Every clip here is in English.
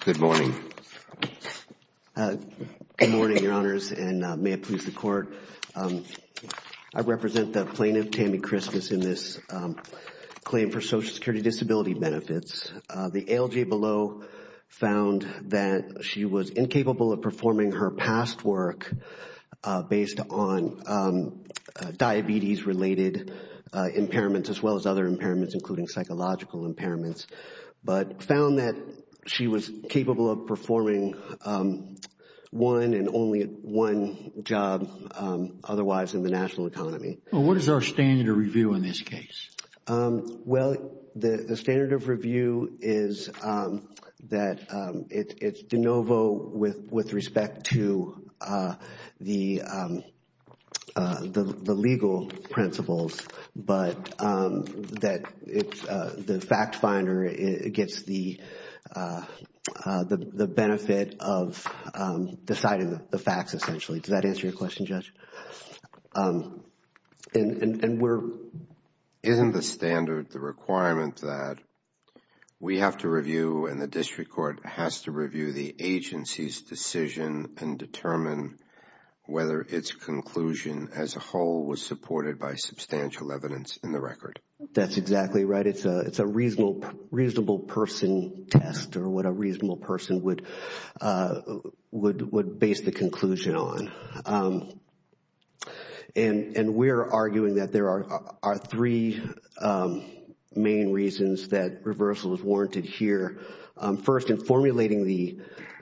Good morning, your honors, and may it please the court. I represent the plaintiff Tammie Christmas in this claim for Social Security disability benefits. The ALJ below found that she was incapable of performing her past work based on diabetes related impairments as well as other impairments including psychological impairments, but found that she was capable of performing one and only one job otherwise in the national economy. What is our standard of review in this case? Well, the standard of review is that it's de novo with respect to the legal principles, but that the fact finder gets the benefit of deciding the facts essentially. Does that answer your question, Judge? Isn't the standard the requirement that we have to review and the district court has to review the agency's decision and determine whether its conclusion as a whole was supported by substantial evidence in the record? That's exactly right. It's a reasonable person test or what a reasonable person would base the conclusion on. And we're arguing that there are three main reasons that reversal is warranted here. First, in formulating the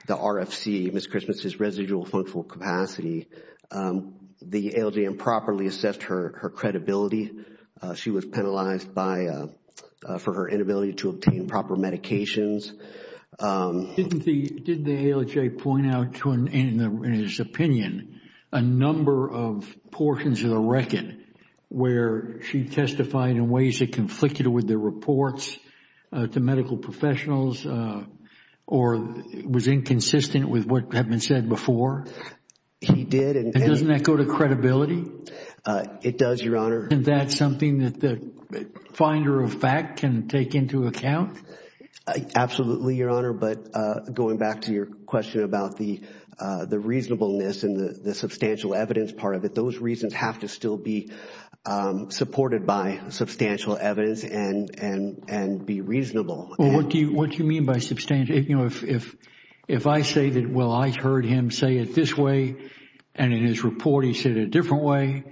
RFC, Ms. Christmas' residual functional capacity, the ALJ improperly assessed her credibility. She was penalized for her inability to obtain proper medications. Didn't the ALJ point out in his opinion a number of portions of the record where she testified in ways that conflicted with the reports to medical professionals or was inconsistent with what had been said before? He did. Doesn't that go to credibility? It does, Your Honor. Isn't that something that the finder of fact can take into account? Absolutely, Your Honor, but going back to your question about the reasonableness and the substantial evidence part of it, those reasons have to still be supported by substantial evidence and be reasonable. What do you mean by substantial? If I say that, well, I heard him say it this way and in his report he said it a different way,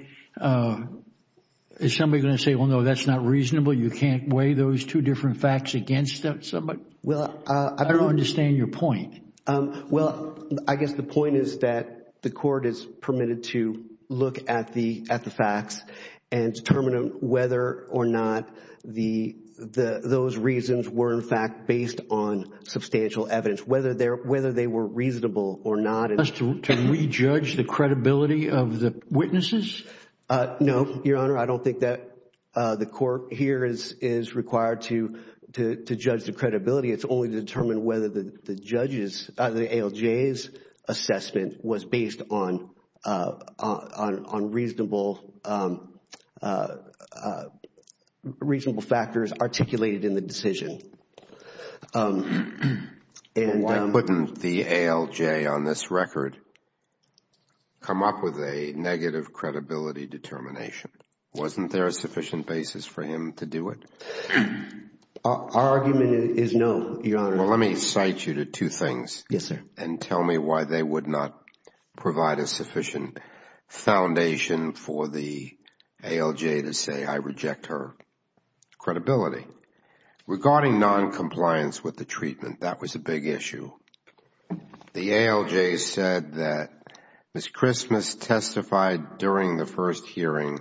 is somebody going to say, well, no, that's not reasonable, you can't weigh those two different facts against somebody? I don't understand your point. Well, I guess the point is that the court is permitted to look at the facts and determine whether or not those reasons were in fact based on substantial evidence, whether they were reasonable or not. Can we judge the credibility of the witnesses? No, Your Honor, I don't think that the court here is required to judge the credibility. It's only to determine whether the judges, the ALJ's assessment was based on reasonable factors articulated in the decision. Why couldn't the ALJ on this record come up with a negative credibility determination? Wasn't there a sufficient basis for him to do it? Our argument is no, Your Honor. Well, let me cite you to two things. Yes, sir. And tell me why they would not provide a sufficient foundation for the ALJ to say, I reject her credibility. Regarding noncompliance with the treatment, that was a big issue. The ALJ said that Ms. Christmas testified during the first hearing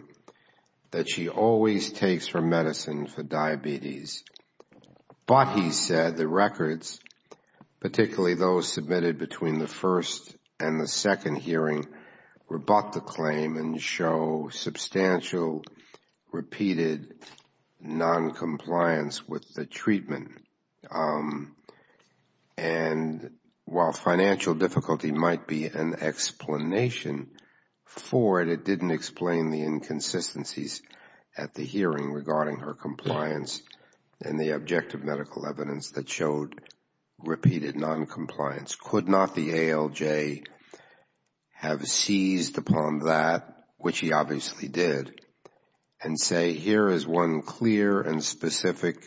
that she always takes her medicine for diabetes. But he said the records, particularly those submitted between the first and the second hearing, rebut the claim and show substantial repeated noncompliance with the treatment. And while financial difficulty might be an explanation for it, it didn't explain the inconsistencies at the hearing regarding her compliance and the objective medical evidence that showed repeated noncompliance. Could not the ALJ have seized upon that, which he obviously did, and say here is one clear and specific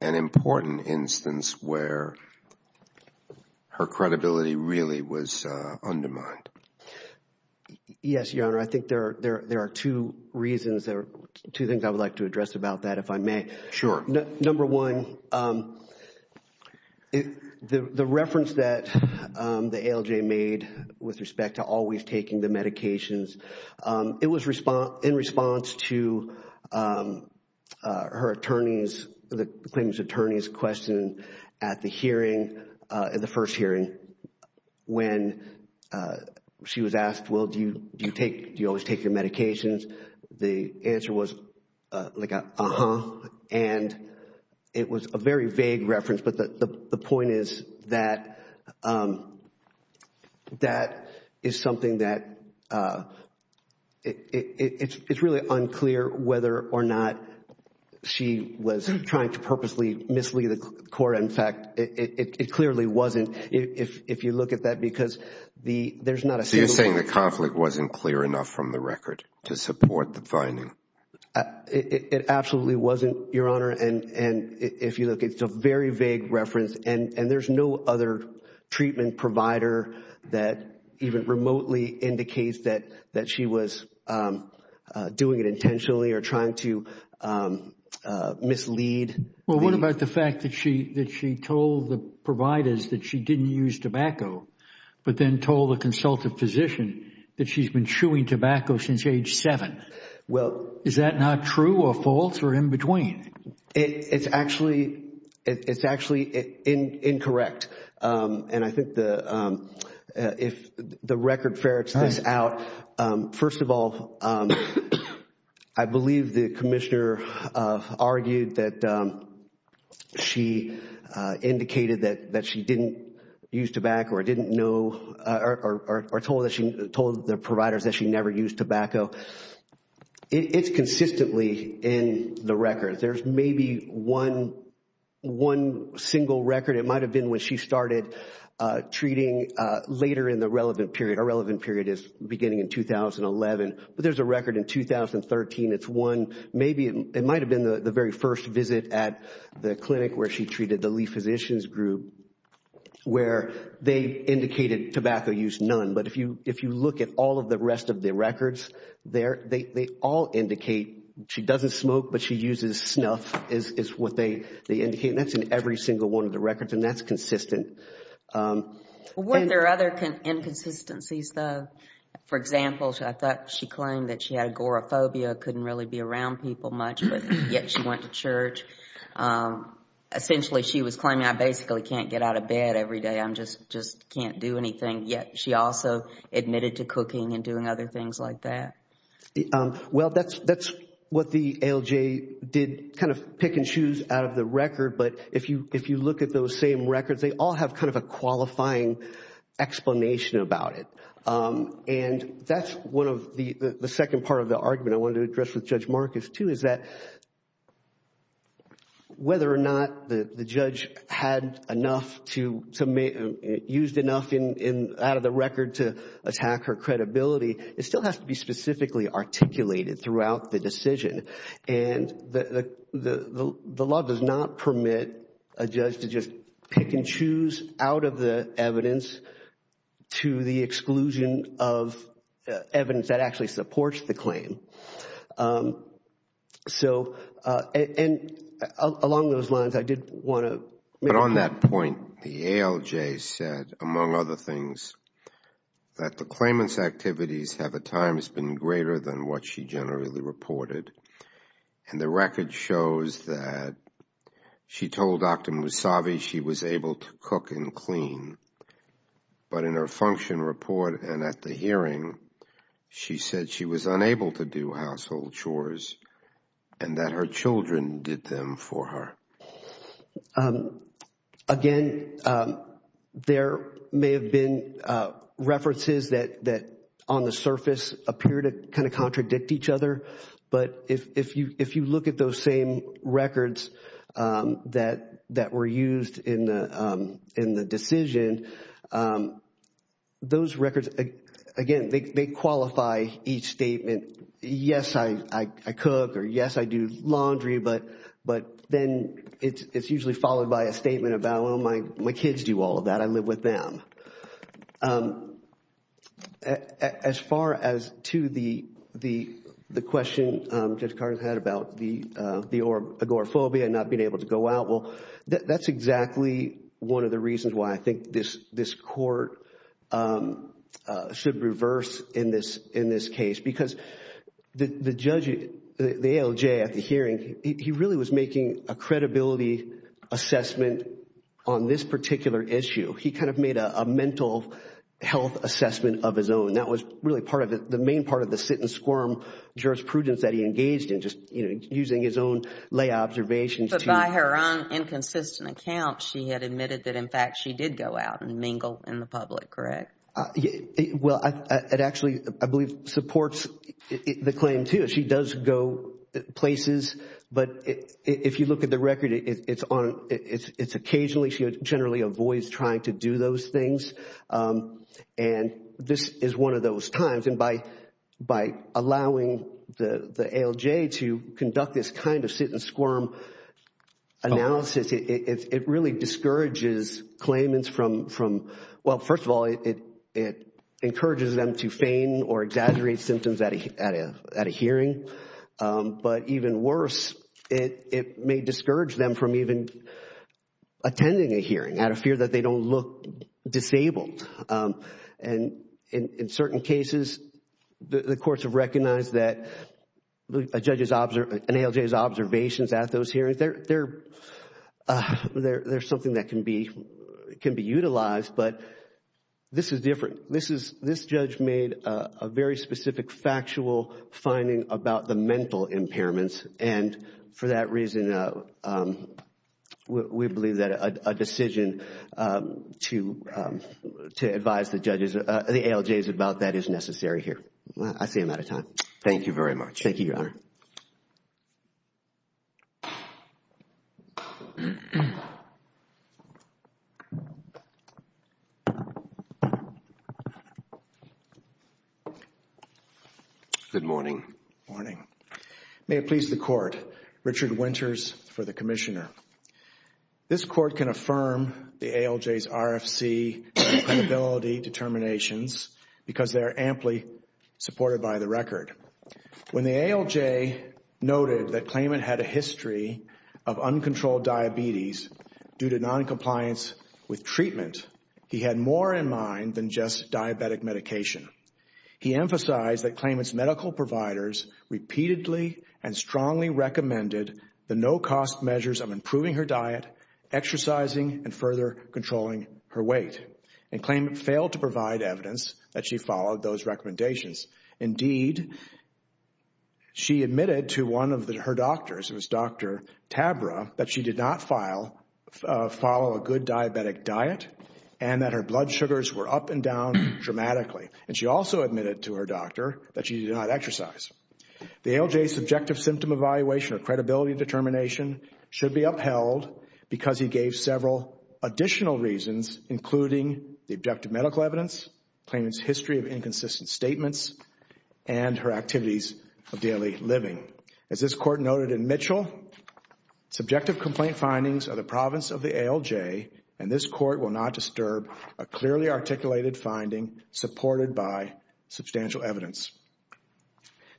and important instance where her credibility really was undermined? Yes, Your Honor. I think there are two reasons, two things I would like to address about that, if I may. Sure. Number one, the reference that the ALJ made with respect to always taking the medications, it was in response to her attorney's, the claimant's attorney's question at the hearing, at the first hearing. And when she was asked, well, do you always take your medications? The answer was like an uh-huh. And it was a very vague reference. But the point is that that is something that it's really unclear whether or not she was trying to purposely mislead the court. In fact, it clearly wasn't, if you look at that, because there's not a single one. So you're saying the conflict wasn't clear enough from the record to support the finding? It absolutely wasn't, Your Honor. And if you look, it's a very vague reference. And there's no other treatment provider that even remotely indicates that she was doing it intentionally or trying to mislead. Well, what about the fact that she told the providers that she didn't use tobacco, but then told the consultative physician that she's been chewing tobacco since age seven? Is that not true or false or in between? It's actually incorrect. And I think if the record ferrets this out, first of all, I believe the commissioner argued that she indicated that she didn't use tobacco or told the providers that she never used tobacco. It's consistently in the record. There's maybe one single record. It might have been when she started treating later in the relevant period. It's beginning in 2011. But there's a record in 2013. It's one. Maybe it might have been the very first visit at the clinic where she treated the Lee Physicians Group, where they indicated tobacco use, none. But if you look at all of the rest of the records there, they all indicate she doesn't smoke, but she uses snuff is what they indicate. And that's in every single one of the records. And that's consistent. Were there other inconsistencies, though? For example, I thought she claimed that she had agoraphobia, couldn't really be around people much, but yet she went to church. Essentially, she was claiming, I basically can't get out of bed every day. I just can't do anything. Yet she also admitted to cooking and doing other things like that. Well, that's what the ALJ did, kind of picking shoes out of the record. But if you look at those same records, they all have kind of a qualifying explanation about it. And that's one of the second part of the argument I wanted to address with Judge Marcus, too, is that whether or not the judge used enough out of the record to attack her credibility, it still has to be specifically articulated throughout the decision. And the law does not permit a judge to just pick and choose out of the evidence to the exclusion of evidence that actually supports the claim. So, and along those lines, I did want to make... But on that point, the ALJ said, among other things, that the claimant's activities have at times been greater than what she generally reported. And the record shows that she told Dr. Musavi she was able to cook and clean. But in her function report and at the hearing, she said she was unable to do household chores and that her children did them for her. Again, there may have been references that, on the surface, appear to kind of contradict each other. But if you look at those same records that were used in the decision, those records, again, they qualify each statement. And yes, I cook, or yes, I do laundry, but then it's usually followed by a statement about, well, my kids do all of that. I live with them. As far as to the question Judge Cardin had about the agoraphobia and not being able to go out, well, that's exactly one of the reasons why I think this court should reverse in this case. Because the judge, the ALJ at the hearing, he really was making a credibility assessment on this particular issue. He kind of made a mental health assessment of his own. That was really the main part of the sit and squirm jurisprudence that he engaged in, just using his own lay observations. But by her own inconsistent account, she had admitted that, in fact, she did go out and mingle in the public, correct? Well, it actually, I believe, supports the claim, too. She does go places, but if you look at the record, it's occasionally she generally avoids trying to do those things. And this is one of those times. And by allowing the ALJ to conduct this kind of sit and squirm analysis, it really discourages claimants from, well, first of all, it encourages them to feign or exaggerate symptoms at a hearing. But even worse, it may discourage them from even attending a hearing out of fear that they don't look disabled. And in certain cases, the courts have recognized that an ALJ's observations at those hearings, they're something that can be utilized. But this is different. This judge made a very specific factual finding about the mental impairments. And for that reason, we believe that a decision to advise the judges, the ALJs about that is necessary here. I see I'm out of time. Thank you very much. Thank you, Your Honor. Thank you. Good morning. Morning. May it please the Court. Richard Winters for the Commissioner. This Court can affirm the ALJ's RFC accountability determinations because they are amply supported by the record. When the ALJ noted that Klayman had a history of uncontrolled diabetes due to noncompliance with treatment, he had more in mind than just diabetic medication. He emphasized that Klayman's medical providers repeatedly and strongly recommended the no-cost measures of improving her diet, exercising, and further controlling her weight. And Klayman failed to provide evidence that she followed those recommendations. Indeed, she admitted to one of her doctors, Dr. Tabra, that she did not follow a good diabetic diet and that her blood sugars were up and down dramatically. And she also admitted to her doctor that she did not exercise. The ALJ's subjective symptom evaluation or credibility determination should be upheld because he gave several additional reasons, including the objective medical evidence, Klayman's history of inconsistent statements, and her activities of daily living. As this Court noted in Mitchell, subjective complaint findings are the province of the ALJ and this Court will not disturb a clearly articulated finding supported by substantial evidence.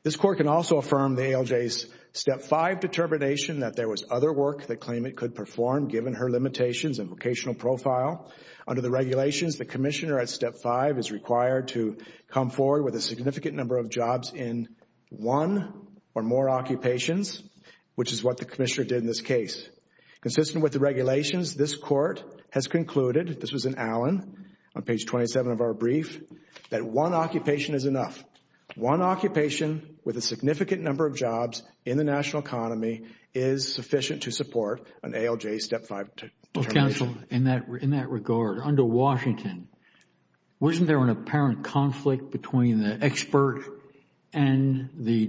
This Court can also affirm the ALJ's Step 5 determination that there was other work that Klayman could perform given her limitations and vocational profile. Under the regulations, the Commissioner at Step 5 is required to come forward with a significant number of jobs in one or more occupations, which is what the Commissioner did in this case. Consistent with the regulations, this Court has concluded, this was in Allen on page 27 of our brief, that one occupation is enough. One occupation with a significant number of jobs in the national economy is sufficient to support an ALJ Step 5 determination. Well, Counsel, in that regard, under Washington, wasn't there an apparent conflict between the expert and the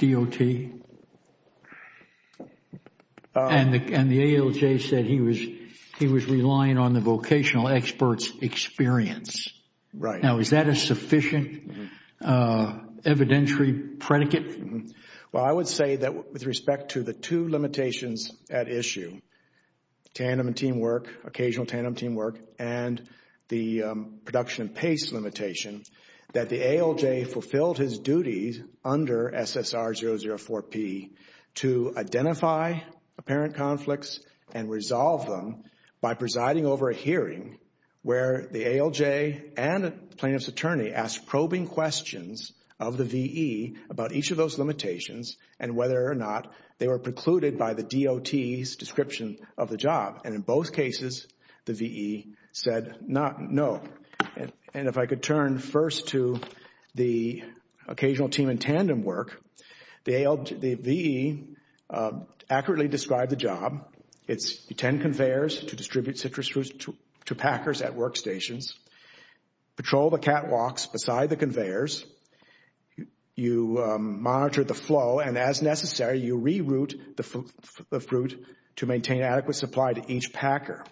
DOT? And the ALJ said he was relying on the vocational expert's experience. Now, is that a sufficient evidentiary predicate? Well, I would say that with respect to the two limitations at issue, tandem and teamwork, occasional tandem teamwork, and the production and pace limitation, that the ALJ fulfilled his duties under SSR 004-P to identify apparent conflicts and resolve them by presiding over a hearing where the ALJ and the plaintiff's attorney asked probing questions of the V.E. about each of those limitations and whether or not they were precluded by the DOT's description of the job. And in both cases, the V.E. said no. And if I could turn first to the occasional team and tandem work, the V.E. accurately described the job. It's 10 conveyors to distribute citrus fruits to packers at workstations. Patrol the catwalks beside the conveyors. You monitor the flow and as necessary, you reroute the fruit to maintain adequate supply to each packer.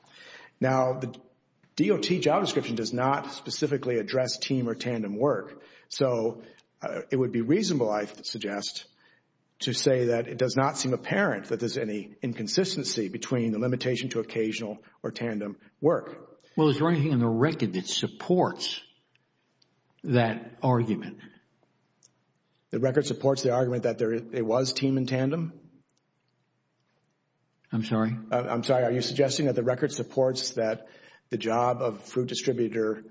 Now, the DOT job description does not specifically address team or tandem work. So it would be reasonable, I suggest, to say that it does not seem apparent that there's any inconsistency between the limitation to occasional or tandem work. Well, is there anything in the record that supports that argument? The record supports the argument that it was team and tandem? I'm sorry? I'm sorry. Are you suggesting that the record supports that the job of fruit distributor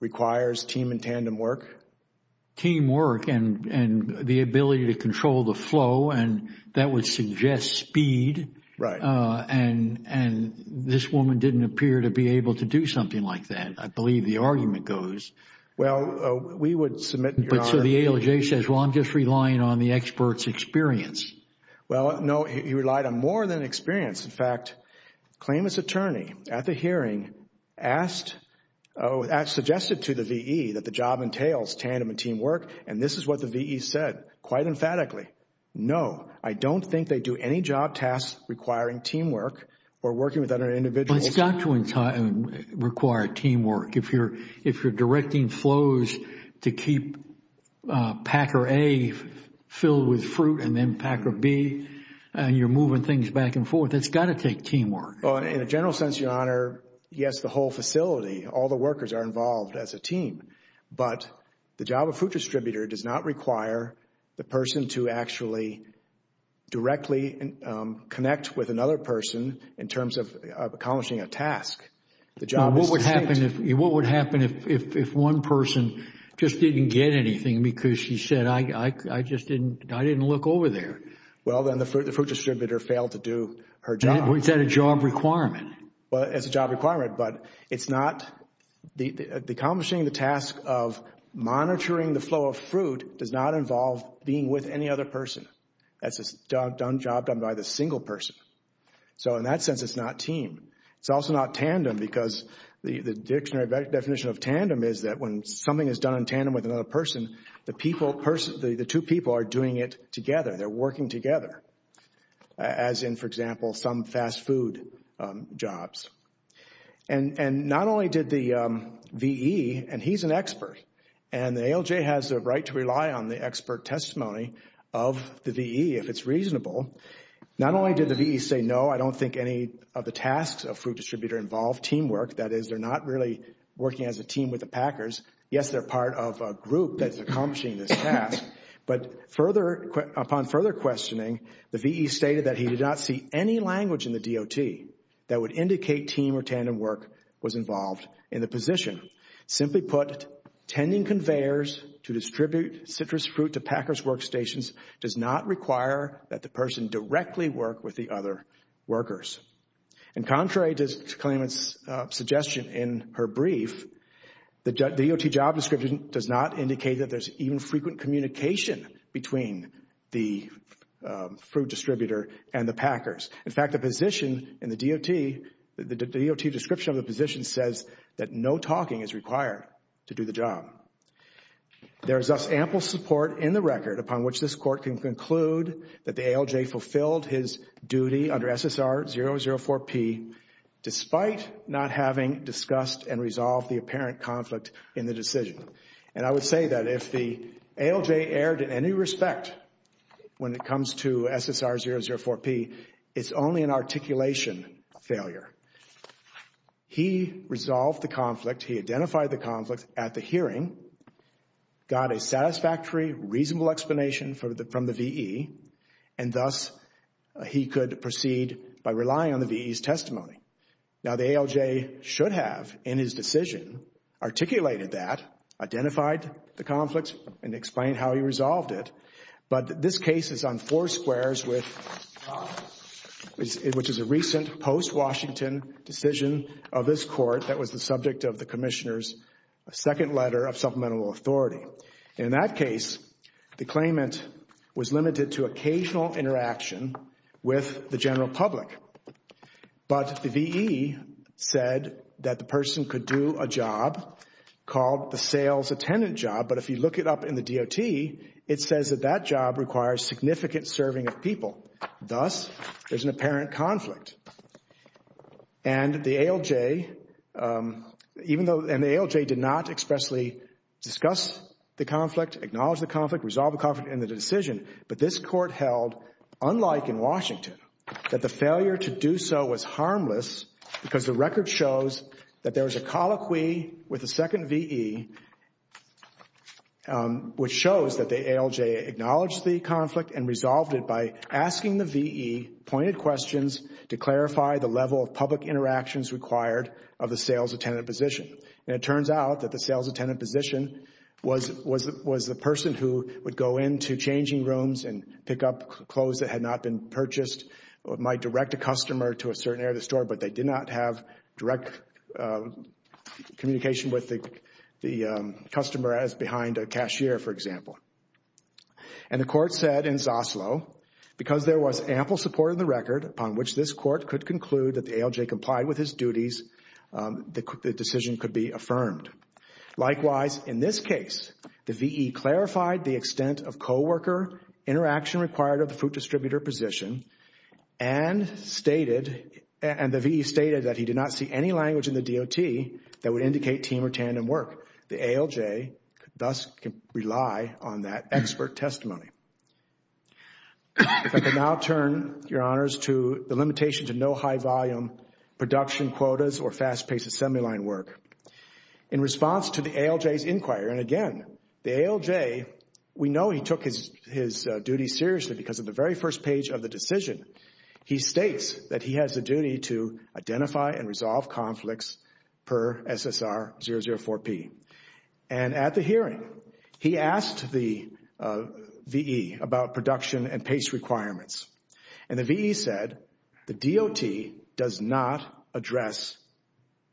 requires team and tandem work? Team work and the ability to control the flow and that would suggest speed. Right. And this woman didn't appear to be able to do something like that, I believe the argument goes. But so the ALJ says, well, I'm just relying on the expert's experience. Well, no, he relied on more than experience. In fact, the claimant's attorney at the hearing suggested to the V.E. that the job entails tandem and team work and this is what the V.E. said quite emphatically. No, I don't think they do any job tasks requiring teamwork or working with other individuals. It's got to require teamwork. If you're directing flows to keep Packer A filled with fruit and then Packer B and you're moving things back and forth, it's got to take teamwork. In a general sense, Your Honor, yes, the whole facility, all the workers are involved as a team, but the job of fruit distributor does not require the person to actually directly connect with another person in terms of accomplishing a task. What would happen if one person just didn't get anything because she said, I just didn't look over there? Well, then the fruit distributor failed to do her job. Is that a job requirement? Well, it's a job requirement, but it's not the accomplishing the task of monitoring the flow of fruit does not involve being with any other person. That's a job done by the single person. So in that sense, it's not team. It's also not tandem because the dictionary definition of tandem is that when something is done in tandem with another person, the two people are doing it together. They're working together, as in, for example, some fast food jobs. And not only did the V.E. and he's an expert, and the ALJ has the right to rely on the expert testimony of the V.E. if it's reasonable, not only did the V.E. say, no, I don't think any of the tasks of fruit distributor involve teamwork, that is, they're not really working as a team with the packers. Yes, they're part of a group that's accomplishing this task, but upon further questioning, the V.E. stated that he did not see any language in the DOT that would indicate team or tandem work was involved in the position. Simply put, tending conveyors to distribute citrus fruit to packers' workstations does not require that the person directly work with the other workers. And contrary to Clement's suggestion in her brief, the DOT job description does not indicate that there's even frequent communication between the fruit distributor and the packers. In fact, the position in the DOT, the DOT description of the position says that no talking is required to do the job. There is thus ample support in the record upon which this court can conclude that the ALJ fulfilled his duty under SSR 004P despite not having discussed and resolved the apparent conflict in the decision. And I would say that if the ALJ erred in any respect when it comes to SSR 004P, it's only an articulation failure. He resolved the conflict, he identified the conflict at the hearing, got a satisfactory, reasonable explanation from the V.E., and thus he could proceed by relying on the V.E.'s testimony. Now, the ALJ should have, in his decision, articulated that, identified the conflict, and explained how he resolved it. But this case is on four squares which is a recent post-Washington decision of this court that was the subject of the Commissioner's second letter of supplemental authority. In that case, the claimant was limited to occasional interaction with the general public. But the V.E. said that the person could do a job called the sales attendant job, but if you look it up in the DOT, it says that that job requires significant serving of people. Thus, there's an apparent conflict. And the ALJ did not expressly discuss the conflict, acknowledge the conflict, resolve the conflict in the decision. But this court held, unlike in Washington, that the failure to do so was harmless because the record shows that there was a colloquy with the second V.E. which shows that the ALJ acknowledged the conflict and resolved it by asking the V.E. pointed questions to clarify the level of public interactions required of the sales attendant position. And it turns out that the sales attendant position was the person who would go into changing rooms and pick up clothes that had not been purchased or might direct a customer to a certain area of the store but they did not have direct communication with the customer as behind a cashier, for example. And the court said in Zaslo, because there was ample support in the record upon which this court could conclude that the ALJ complied with his duties, the decision could be affirmed. Likewise, in this case, the V.E. clarified the extent of co-worker interaction required of the food distributor position and stated and the V.E. stated that he did not see any language in the D.O.T. that would indicate team or tandem work. The ALJ thus can rely on that expert testimony. If I can now turn, Your Honors, to the limitation to no high-volume production quotas or fast-paced assembly line work. In response to the ALJ's inquiry, and again, the ALJ, we know he took his duty seriously because at the very first page of the decision, he states that he has a duty to identify And at the hearing, he asked the V.E. about production and pace requirements. And the V.E. said the D.O.T. does not address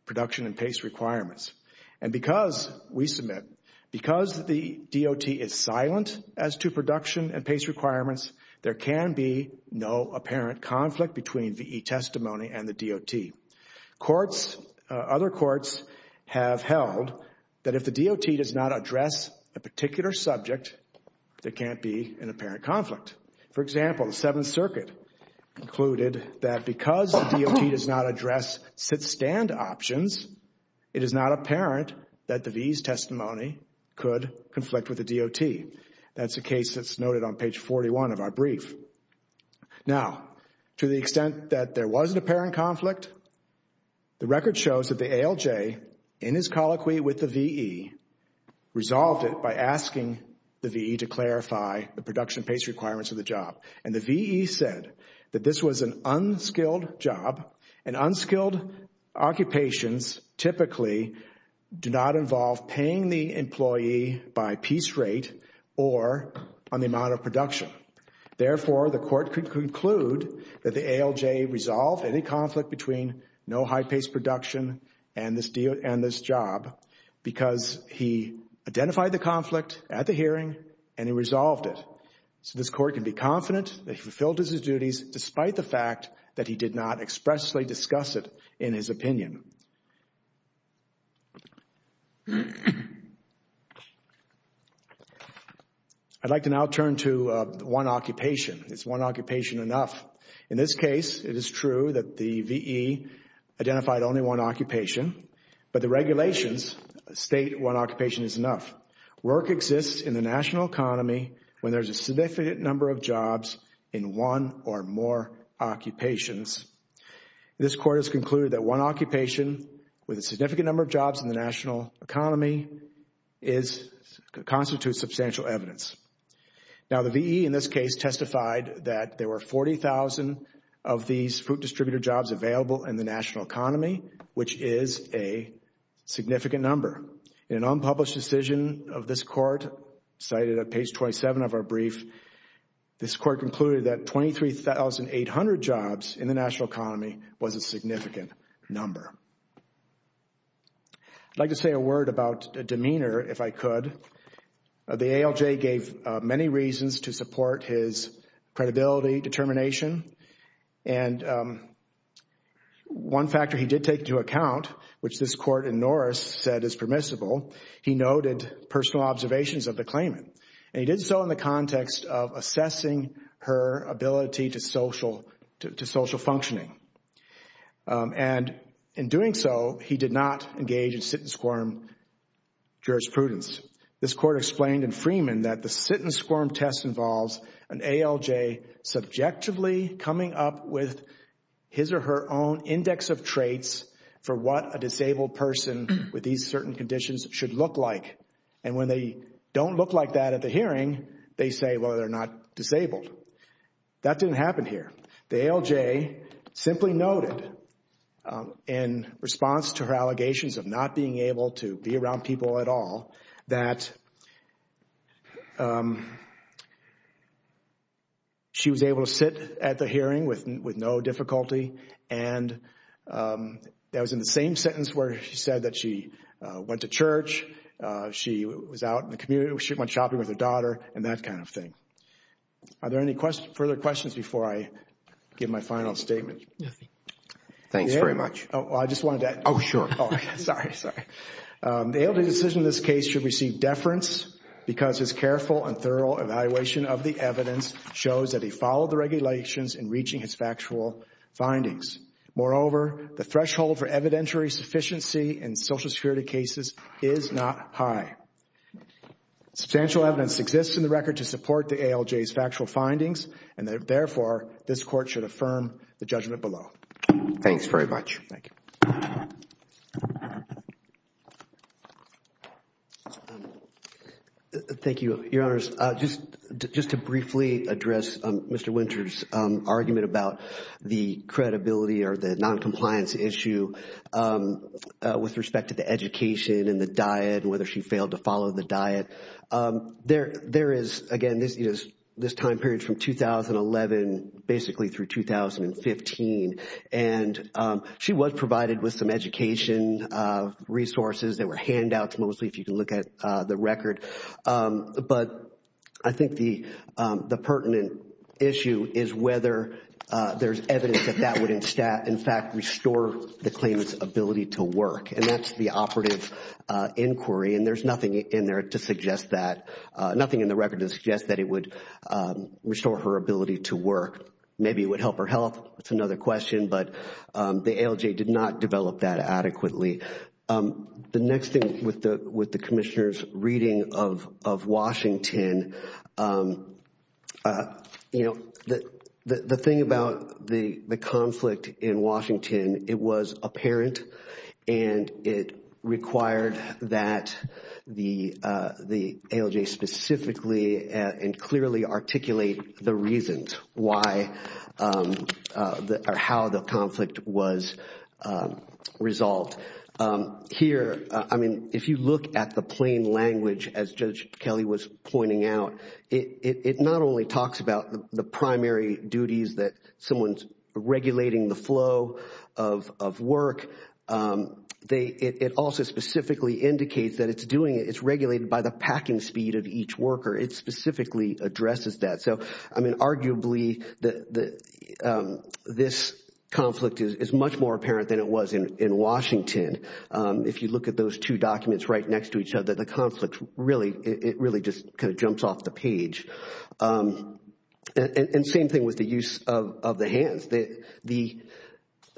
production and pace requirements. And because, we submit, because the D.O.T. is silent as to production and pace requirements, there can be no apparent conflict between V.E. testimony and the D.O.T. Courts, other courts, have held that if the D.O.T. does not address a particular subject, there can't be an apparent conflict. For example, the Seventh Circuit concluded that because the D.O.T. does not address sit-stand options, it is not apparent that the V.E.'s testimony could conflict with the D.O.T. That's a case that's noted on page 41 of our brief. Now, to the extent that there was an apparent conflict, the record shows that the A.L.J., in his colloquy with the V.E., resolved it by asking the V.E. to clarify the production and pace requirements of the job. And the V.E. said that this was an unskilled job and unskilled occupations typically do not involve paying the employee by piece rate or on the amount of production. Therefore, the Court could conclude that the A.L.J. resolved any conflict between no high-paced production and this job because he identified the conflict at the hearing and he resolved it. So this Court can be confident that he fulfilled his duties despite the fact that he did not expressly discuss it in his opinion. I'd like to now turn to one occupation. Is one occupation enough? In this case, it is true that the V.E. identified only one occupation, but the regulations state one occupation is enough. Work exists in the national economy when there's a significant number of jobs in one or more occupations. This Court has concluded that one occupation with a significant number of jobs in the national economy constitutes substantial evidence. Now, the V.E. in this case testified that there were 40,000 of these food distributor jobs available in the national economy, which is a significant number. In an unpublished decision of this Court, cited at page 27 of our brief, this Court concluded that 23,800 jobs in the national economy was a significant number. I'd like to say a word about demeanor if I could. The ALJ gave many reasons to support his credibility, determination, and one factor he did take into account, which this Court in Norris said is permissible, he noted personal observations of the claimant. And he did so in the context of assessing her ability to social functioning. And in doing so, he did not engage in sit-and-squirm jurisprudence. This Court explained in Freeman that the sit-and-squirm test involves an ALJ subjectively coming up with his or her own index of traits for what a disabled person with these certain conditions should look like. And when they don't look like that at the hearing, they say, well, they're not disabled. That didn't happen here. The ALJ simply noted in response to her allegations of not being able to be around people at all that she was able to sit at the hearing with no difficulty and that was in the same sentence where she said that she went to church, she was out in the community, she went shopping with her daughter, and that kind of thing. Are there any further questions before I give my final statement? Thanks very much. The ALJ decision in this case should receive deference because his careful and thorough evaluation of the evidence shows that he followed the regulations in reaching his factual findings. Moreover, the threshold for evidentiary sufficiency in social security cases is not high. Substantial evidence exists in the record to support the ALJ's factual findings and therefore this Court should affirm the judgment below. Thanks very much. Thank you, Your Honors. Just to briefly address Mr. Winter's argument about the credibility or the noncompliance issue with respect to the education and the diet, whether she failed to follow the diet. There is, again, this time period from 2011 basically through 2015 and she was provided with some education resources that were handouts mostly, if you can look at the record. But I think the pertinent issue is whether there's evidence that that would in fact restore the claimant's ability to work and that's the operative inquiry and there's nothing in there to suggest that nothing in the record to suggest that it would restore her ability to work. Maybe it would help her health, that's another question, but the ALJ did not develop that adequately. The next thing with the Commissioner's reading of Washington, the thing about the and it required that the ALJ specifically and clearly articulate the reasons why or how the conflict was resolved. Here, I mean, if you look at the plain language as Judge Kelly was pointing out, it not only talks about the primary duties that someone's regulating the flow of work, it also specifically indicates that it's regulated by the packing speed of each worker it specifically addresses that. So, I mean, arguably this conflict is much more apparent than it was in Washington. If you look at those two documents right next to each other the conflict really just jumps off the page. And same thing with the use of the hands.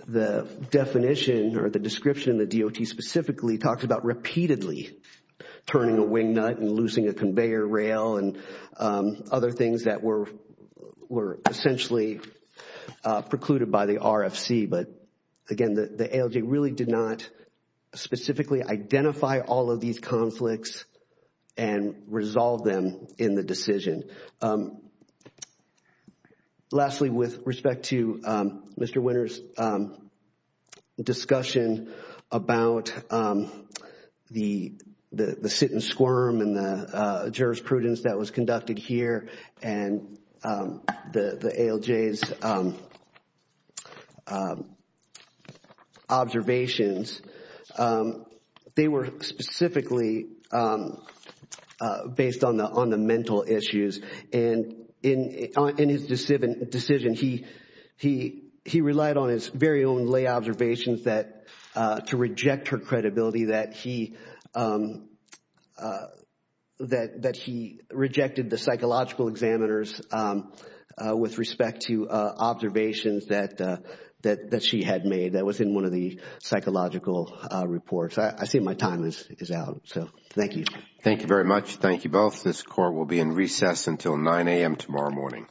The definition or the description of the DOT specifically talks about repeatedly turning a wing nut and loosing a conveyor rail and other things that were essentially precluded by the RFC but, again, the ALJ really did not specifically identify all of these conflicts and resolve them in the decision. Lastly, with respect to Mr. Winter's discussion about the sit and squirm and the jurisprudence that was conducted here and the ALJ's observations they were specifically based on the mental issues and in his decision he relied on his very own lay observations to reject her credibility that he rejected the psychological examiners with respect to observations that she had made that was in one of the psychological reports. I see my time is out. Thank you. This court will be in recess until 9 a.m. tomorrow morning.